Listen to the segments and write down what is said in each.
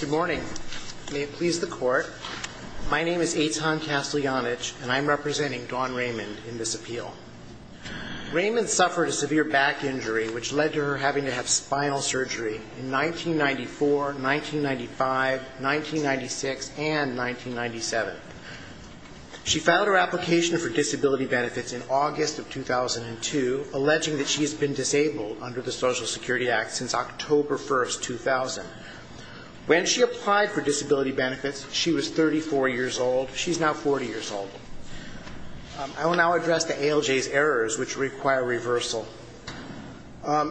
Good morning. May it please the court, my name is Eitan Casteljanich and I'm representing Dawn Raymond in this appeal. Raymond suffered a severe back injury which led to her having to have spinal surgery in 1994, 1995, 1996, and 1997. She filed her application for disability benefits in August of 2002, alleging that she has been disabled under the Social Security Act since October 1st, 2000. When she applied for disability benefits she was 34 years old, she's now 40 years old. I will now address the ALJ's errors which require reversal.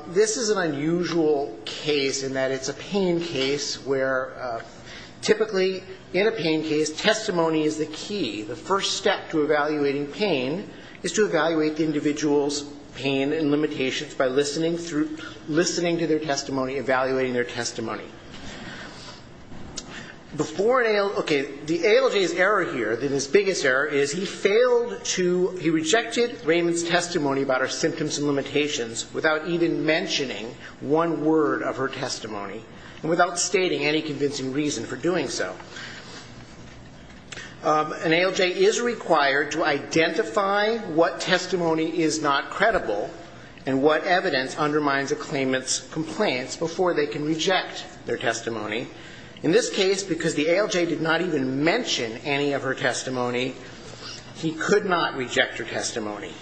This is an unusual case in that it's a pain case where typically in a pain case testimony is the key. The first step to evaluating pain is to evaluate the individual's pain and limitations by listening to their testimony, evaluating their testimony. Before an ALJ, okay, the ALJ's error here, the biggest error, is he failed to, he rejected Raymond's testimony about her symptoms and limitations without even mentioning one word of her testimony and without stating any convincing reason for doing so. An ALJ is required to identify what testimony is not credible and what evidence undermines a claimant's complaints before they can reject their testimony. In this case, because the ALJ did not even mention any of her testimony, he could not reject her testimony.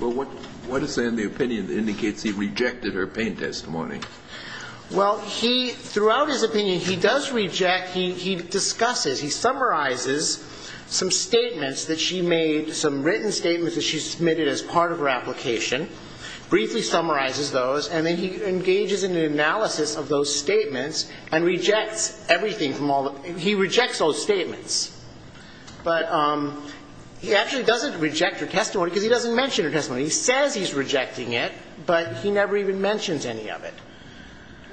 Well, what is in the opinion that indicates he rejected her pain testimony? Well, he, throughout his opinion, he does reject, he discusses, he summarizes some statements that she made, some written statements that she submitted as part of her application, briefly summarizes those, and then he engages in an analysis of those statements and rejects everything from all the, he rejects those statements. But he actually doesn't reject her testimony because he doesn't mention her testimony. He says he's rejecting it, but he never even mentions any of it.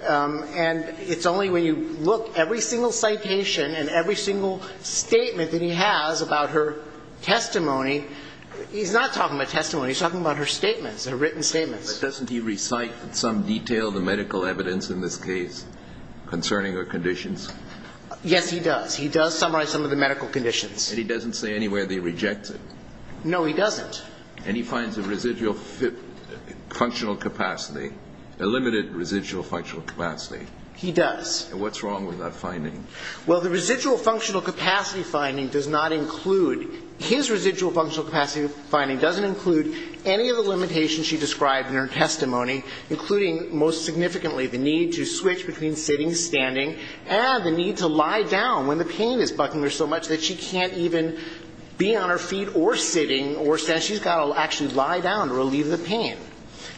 And it's only when you look, every single citation and every single statement that he has about her testimony, he's not talking about testimony, he's talking about her statements, her written statements. But doesn't he recite in some detail the medical evidence in this case concerning her conditions? Yes, he does. He does summarize some of the medical conditions. And he doesn't say anywhere that he rejects it? No, he doesn't. And he finds a residual functional capacity, a limited residual functional capacity? He does. And what's wrong with that finding? Well, the residual functional capacity finding does not include, his residual functional capacity finding doesn't include any of the limitations she described in her testimony, including most significantly the need to switch between sitting, standing, and the need to lie down when the pain is bucking her so much that she can't even be on her feet or sitting or standing. She's got to actually lie down to relieve the pain.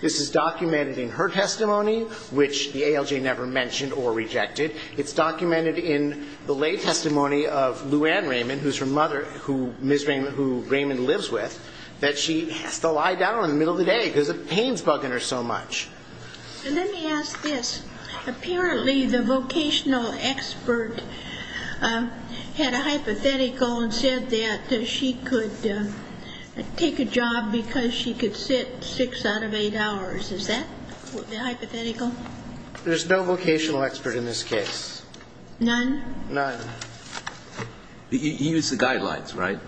This is documented in her testimony, which the ALJ never mentioned or rejected. It's documented in the lay testimony of Lou Ann Raymond, who's her mother, who Ms. Raymond, who Raymond lives with, that she has to lie down in the middle of the day because the pain's bucking her so much. And let me ask this. Apparently the vocational expert had a hypothetical and said that she could take a job because she could sit six out of eight hours. Is that the hypothetical? There's no vocational expert in this case. None? None. He used the guidelines, right?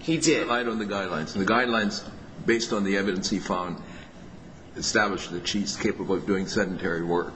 He did. He relied on the guidelines. And the guidelines, based on the evidence he found, established that she's capable of doing sedentary work.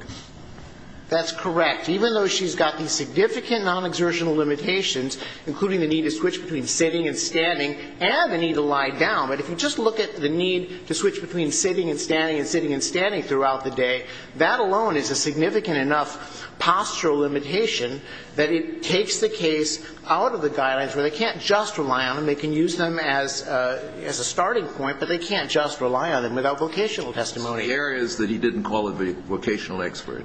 That's correct. Even though she's got these significant non-exertional limitations, including the need to switch between sitting and standing and the need to lie down, but if you just look at the need to switch between sitting and standing and sitting and standing throughout the day, that alone is a significant enough postural limitation that it takes the case out of the guidelines, where they can't just rely on them. They can use them as a starting point, but they can't just rely on them without vocational testimony. So the error is that he didn't call her the vocational expert?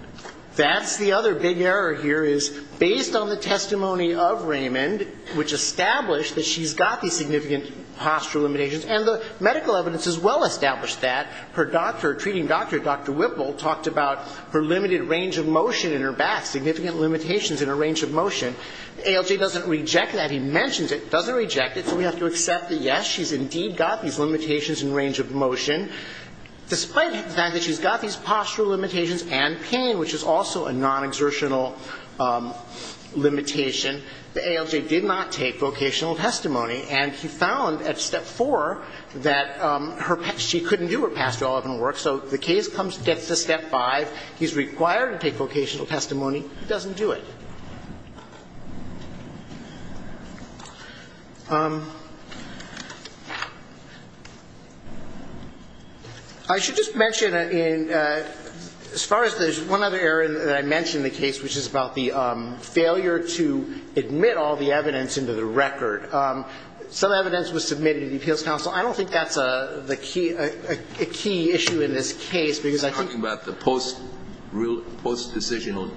That's the other big error here, is based on the testimony of Raymond, which established that she's got these significant postural limitations, and the medical evidence as well established that. Her doctor, treating doctor, Dr. Whipple, talked about her limited range of motion in her back, significant limitations in her range of motion. ALJ doesn't reject that. He mentions it, doesn't reject it, so we have to accept that, yes, she's indeed got these limitations in range of motion, despite the fact that she's got these postural limitations and pain, which is also a non-exertional limitation. The ALJ did not take vocational testimony, and he found at step four that she couldn't do her pastoral work, so the case comes to step five. He's required to take vocational testimony. He doesn't do it. I should just mention, as far as there's one other error that I mentioned in the case, which is about the failure to admit all the evidence into the record. Some evidence was submitted to the Appeals Council. I don't think that's a key issue in this case, because I think you're talking about the post-decision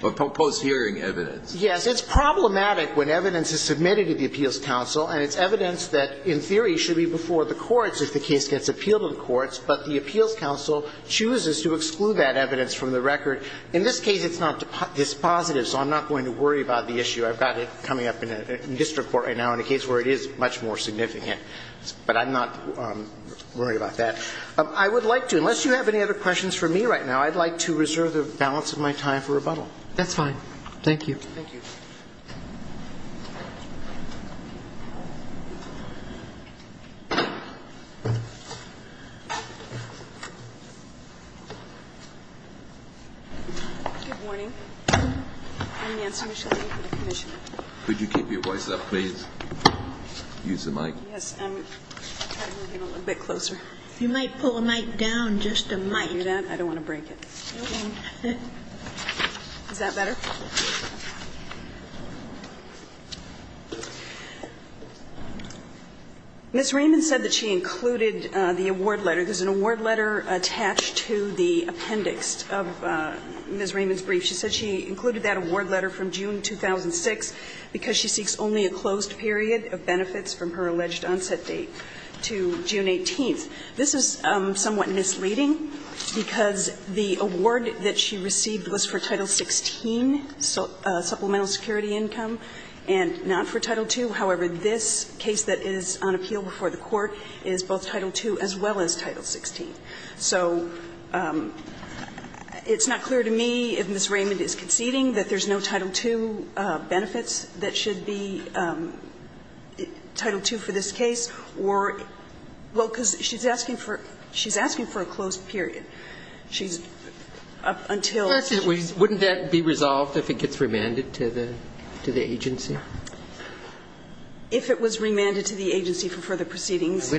or post-hearing evidence. Yes. It's problematic when evidence is submitted to the Appeals Council, and it's evidence that, in theory, should be before the courts if the case gets appealed in courts, but the Appeals Council chooses to exclude that evidence from the record. In this case, it's not dispositive, so I'm not going to worry about the issue. I've got it coming up in district court right now in a case where it is much more significant, but I'm not going to worry about that. I would like to, unless you have any other questions for me right now, I'd like to reserve the balance of my time for rebuttal. That's fine. Thank you. Thank you. Good morning. I'm Nancy Micheletti for the Commission. Could you keep your voice up, please? Use the mic. Yes, I'm trying to move it a little bit closer. You might pull the mic down just a mic. Can you hear that? I don't want to break it. Is that better? Ms. Raymond said that she included the award letter. There's an award letter attached to the appendix of Ms. Raymond's brief. She said she included that award letter from June 2006 because she seeks only a closed period of benefits from her alleged onset date to June 18th. This is somewhat misleading because the award that she received was for Title XVI supplemental security income and not for Title II. However, this case that is on appeal before the Court is both Title II as well as Title XVI. So it's not clear to me, if Ms. Raymond is conceding, that there's no Title II benefits that should be Title II for this case, or, well, because she's asking for a closed period. She's up until the agency. Wouldn't that be resolved if it gets remanded to the agency? If it was remanded to the agency for further proceedings, yes. We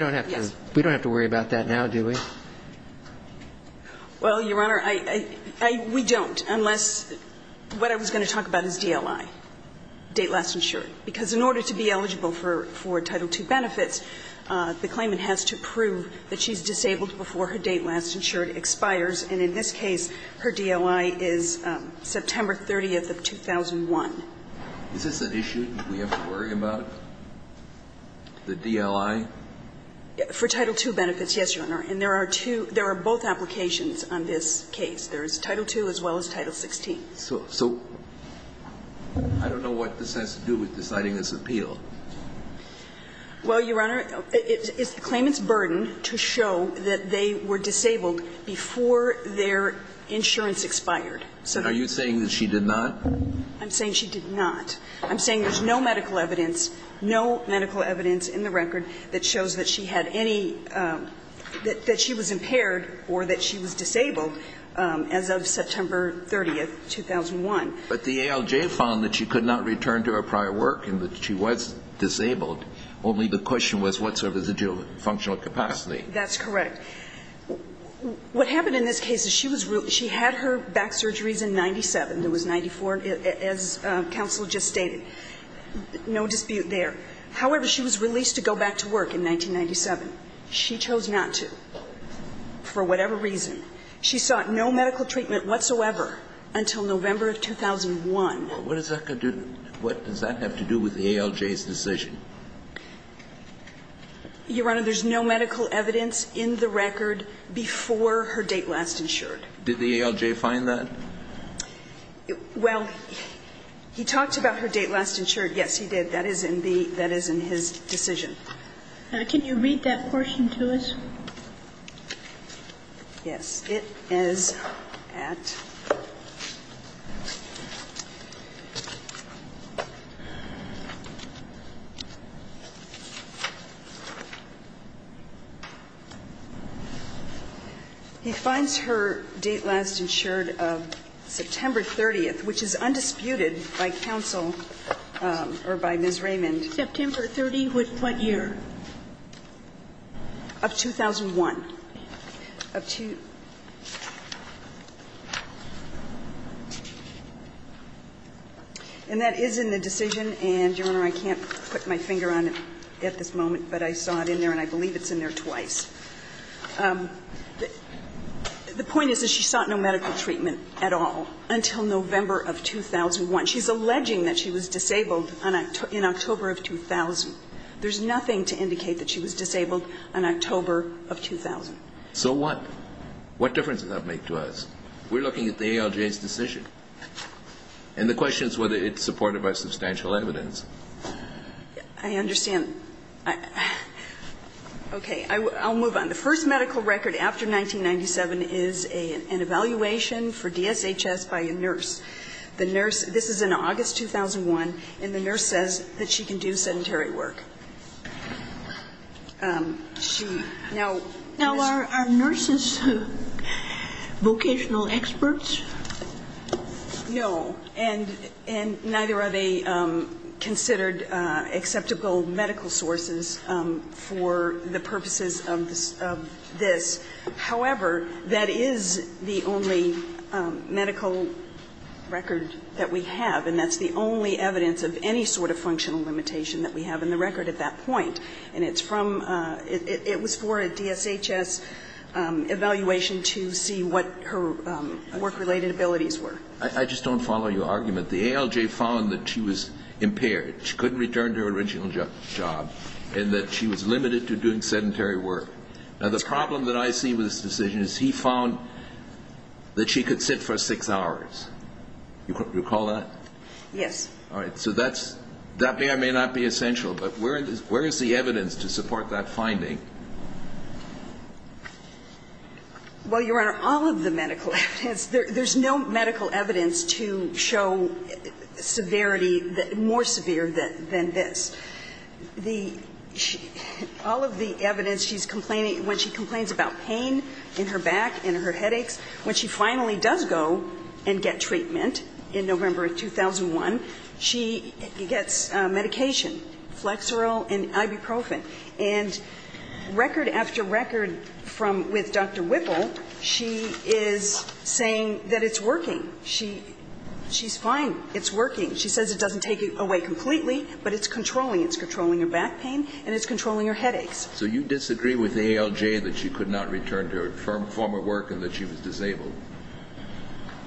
don't have to worry about that now, do we? Well, Your Honor, we don't, unless what I was going to talk about is DLI. Date last insured. Because in order to be eligible for Title II benefits, the claimant has to prove that she's disabled before her date last insured expires. And in this case, her DLI is September 30th of 2001. Is this an issue we have to worry about? The DLI? For Title II benefits, yes, Your Honor. And there are two – there are both applications on this case. There's Title II as well as Title XVI. So I don't know what this has to do with deciding this appeal. Well, Your Honor, it's the claimant's burden to show that they were disabled before their insurance expired. So are you saying that she did not? I'm saying she did not. I'm saying there's no medical evidence, no medical evidence in the record that shows that she had any – that she was impaired or that she was disabled as of September 30th, 2001. But the ALJ found that she could not return to her prior work and that she was disabled. Only the question was what sort of residual functional capacity. That's correct. What happened in this case is she was – she had her back surgeries in 97. It was 94, as counsel just stated. No dispute there. However, she was released to go back to work in 1997. She chose not to for whatever reason. She sought no medical treatment whatsoever until November of 2001. Well, what does that have to do with the ALJ's decision? Your Honor, there's no medical evidence in the record before her date last insured. Did the ALJ find that? Well, he talked about her date last insured. Yes, he did. That is in the – that is in his decision. Can you read that portion to us? Yes. It is at – he finds her date last insured of September 30th, which is undisputed by counsel or by Ms. Raymond. September 30th with what year? Of 2001. And that is in the decision. And, Your Honor, I can't put my finger on it at this moment, but I saw it in there and I believe it's in there twice. The point is that she sought no medical treatment at all until November of 2001. She's alleging that she was disabled in October of 2000. There's nothing to indicate that she was disabled in October of 2000. So what? What difference does that make to us? We're looking at the ALJ's decision. And the question is whether it's supported by substantial evidence. I understand. Okay. I'll move on. The first medical record after 1997 is an evaluation for DSHS by a nurse. The nurse – this is in August 2001, and the nurse says that she can do sedentary work. She now – Now, are nurses vocational experts? No. And neither are they considered acceptable medical sources for the purposes of this. However, that is the only medical record that we have, and that's the only evidence of any sort of functional limitation that we have in the record at that point. And it's from – it was for a DSHS evaluation to see what her work-related abilities were. I just don't follow your argument. The ALJ found that she was impaired. She couldn't return to her original job, and that she was limited to doing sedentary work. Now, the problem that I see with this decision is he found that she could sit for six hours. Do you recall that? Yes. All right. So that's – that may or may not be essential, but where is the evidence to support that finding? Well, Your Honor, all of the medical evidence – there's no medical evidence to show severity – more severe than this. All of the evidence she's complaining – when she complains about pain in her back, in her headaches, when she finally does go and get treatment in November of 2001, she gets medication, Flexeril and ibuprofen. And record after record from – with Dr. Whipple, she is saying that it's working. She's fine. It's working. She says it doesn't take away completely, but it's controlling. It's controlling her back pain and it's controlling her headaches. So you disagree with the ALJ that she could not return to her former work and that she was disabled?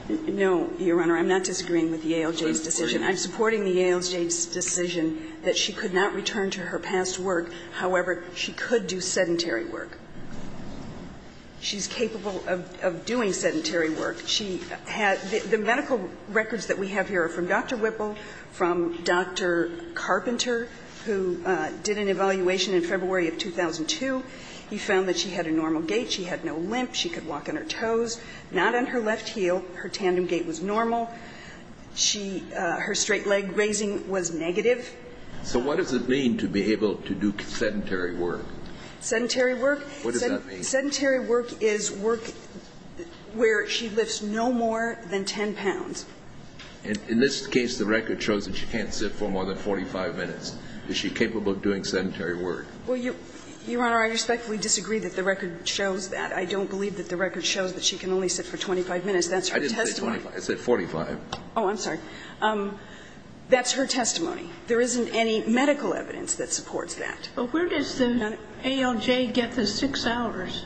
No, Your Honor. I'm not disagreeing with the ALJ's decision. I'm supporting the ALJ's decision that she could not return to her past work. However, she could do sedentary work. She's capable of doing sedentary work. The medical records that we have here are from Dr. Whipple, from Dr. Carpenter, who did an evaluation in February of 2002. He found that she had a normal gait. She had no limp. She could walk on her toes, not on her left heel. Her tandem gait was normal. She – her straight leg raising was negative. So what does it mean to be able to do sedentary work? Sedentary work? What does that mean? Sedentary work is work where she lifts no more than 10 pounds. In this case, the record shows that she can't sit for more than 45 minutes. Is she capable of doing sedentary work? Well, Your Honor, I respectfully disagree that the record shows that. I don't believe that the record shows that she can only sit for 25 minutes. That's her testimony. I didn't say 25. I said 45. Oh, I'm sorry. That's her testimony. There isn't any medical evidence that supports that. But where does the ALJ get the six hours?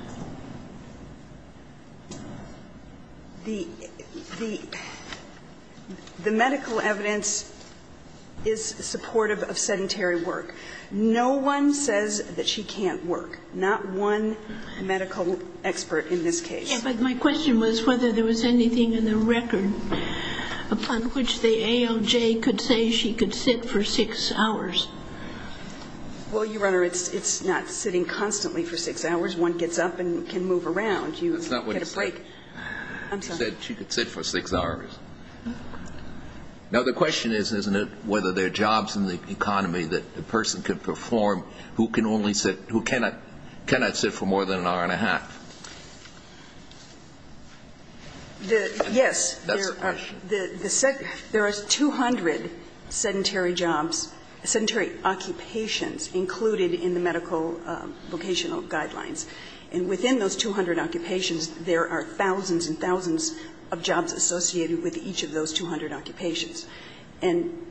The medical evidence is supportive of sedentary work. No one says that she can't work. Not one medical expert in this case. Yeah, but my question was whether there was anything in the record upon which the ALJ could say she could sit for six hours. Well, Your Honor, it's not sitting constantly for six hours. One gets up and can move around. You get a break. That's not what she said. I'm sorry. She said she could sit for six hours. Now, the question is, isn't it, whether there are jobs in the economy that a person could perform who can only sit, who cannot sit for more than an hour and a half? Yes. That's the question. There are 200 sedentary jobs, sedentary occupations included in the medical vocational guidelines. And within those 200 occupations, there are thousands and thousands of jobs associated with each of those 200 occupations. And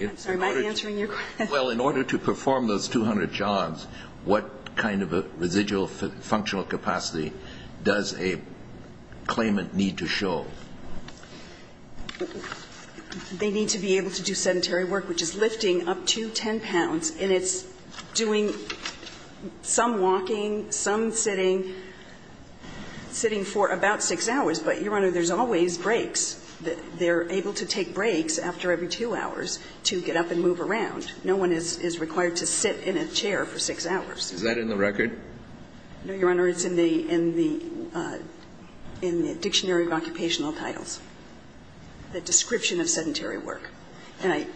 I'm sorry, am I answering your question? Well, in order to perform those 200 jobs, what kind of a residual functional capacity does a claimant need to show? They need to be able to do sedentary work, which is lifting up to 10 pounds. And it's doing some walking, some sitting, sitting for about six hours. But, Your Honor, there's always breaks. They're able to take breaks after every two hours to get up and move around. No one is required to sit in a chair for six hours. Is that in the record? No, Your Honor. It's in the dictionary of occupational titles, the description of sedentary work. And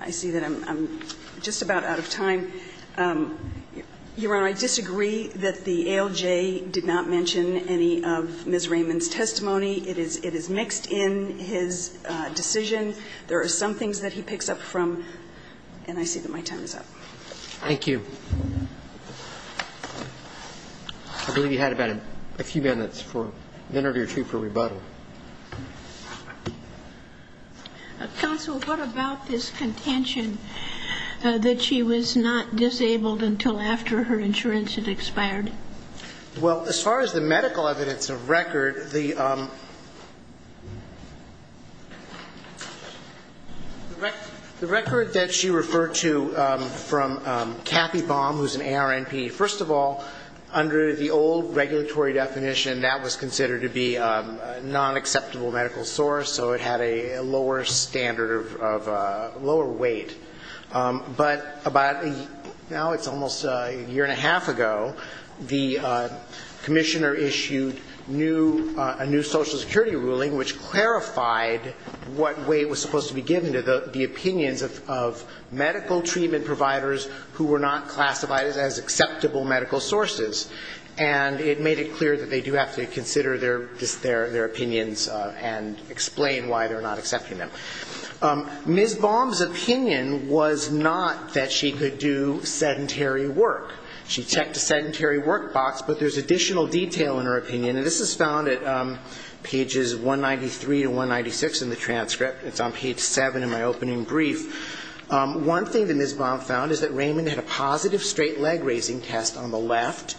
I see that I'm just about out of time. Your Honor, I disagree that the ALJ did not mention any of Ms. Raymond's testimony. It is mixed in his decision. There are some things that he picks up from. And I see that my time is up. Thank you. I believe you had about a few minutes for, a minute or two for rebuttal. Counsel, what about this contention that she was not disabled until after her insurance had expired? Well, as far as the medical evidence of record, the record that she referred to from Kathy Baum, who's an ARNP, first of all, under the old regulatory definition, that was considered to be a non-acceptable medical source, so it had a lower standard of, lower weight. But about, now it's almost a year and a half ago, the commissioner issued new, a new Social Security ruling which clarified what weight was supposed to be given to the medical treatment providers who were not classified as acceptable medical sources. And it made it clear that they do have to consider their opinions and explain why they're not accepting them. Ms. Baum's opinion was not that she could do sedentary work. She checked the sedentary work box, but there's additional detail in her opinion. And this is found at pages 193 to 196 in the transcript. It's on page 7 in my opening brief. One thing that Ms. Baum found is that Raymond had a positive straight leg raising test on the left.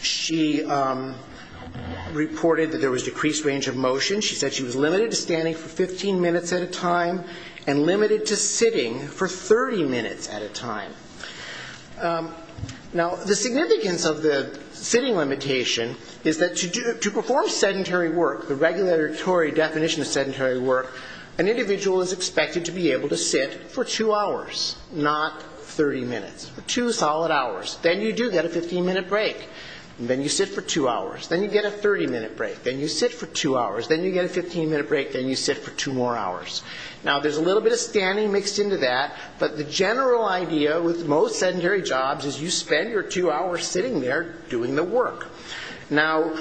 She reported that there was decreased range of motion. She said she was limited to standing for 15 minutes at a time and limited to sitting for 30 minutes at a time. Now, the significance of the sitting limitation is that to perform sedentary work, the regulatory definition of sedentary work, an individual is expected to be able to sit for two hours, not 30 minutes. Two solid hours. Then you do get a 15-minute break. Then you sit for two hours. Then you get a 30-minute break. Then you sit for two hours. Then you get a 15-minute break. Then you sit for two more hours. Now, there's a little bit of standing mixed into that, but the general idea with most sedentary jobs is you spend your two hours sitting there doing the work. Now,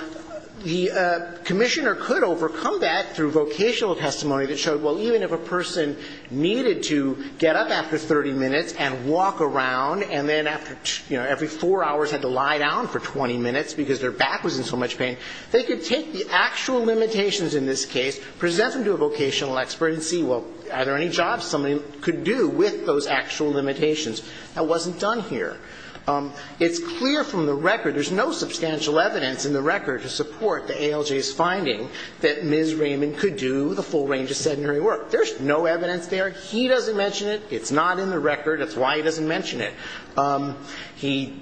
the commissioner could overcome that through vocational testimony that showed, well, even if a person needed to get up after 30 minutes and walk around and then after every four hours had to lie down for 20 minutes because their back was in so much pain, they could take the actual limitations in this case, present them to a vocational expert, and see, well, are there any jobs somebody could do with those actual limitations? That wasn't done here. It's clear from the record, there's no substantial evidence in the record to support the ALJ's finding that Ms. Raymond could do the full range of sedentary work. There's no evidence there. He doesn't mention it. It's not in the record. That's why he doesn't mention it. He,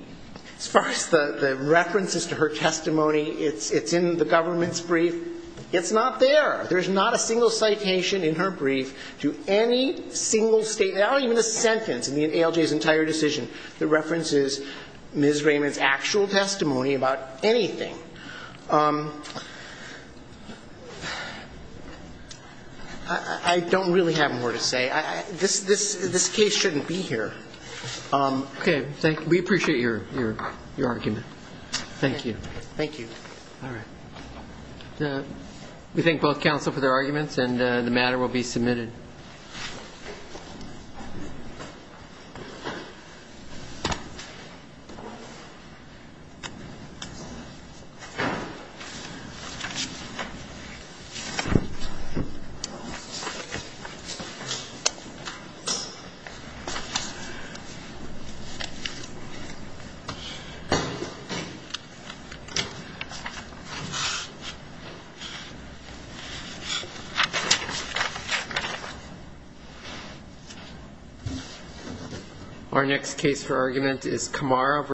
as far as the references to her testimony, it's in the government's brief. It's not there. There's not a single citation in her brief to any single statement, not even a sentence in the ALJ's entire decision that references Ms. Raymond's actual testimony about anything. I don't really have more to say. This case shouldn't be here. Okay. Thank you. We appreciate your argument. Thank you. Thank you. All right. We thank both counsel for their arguments and the matter will be submitted. Thank you.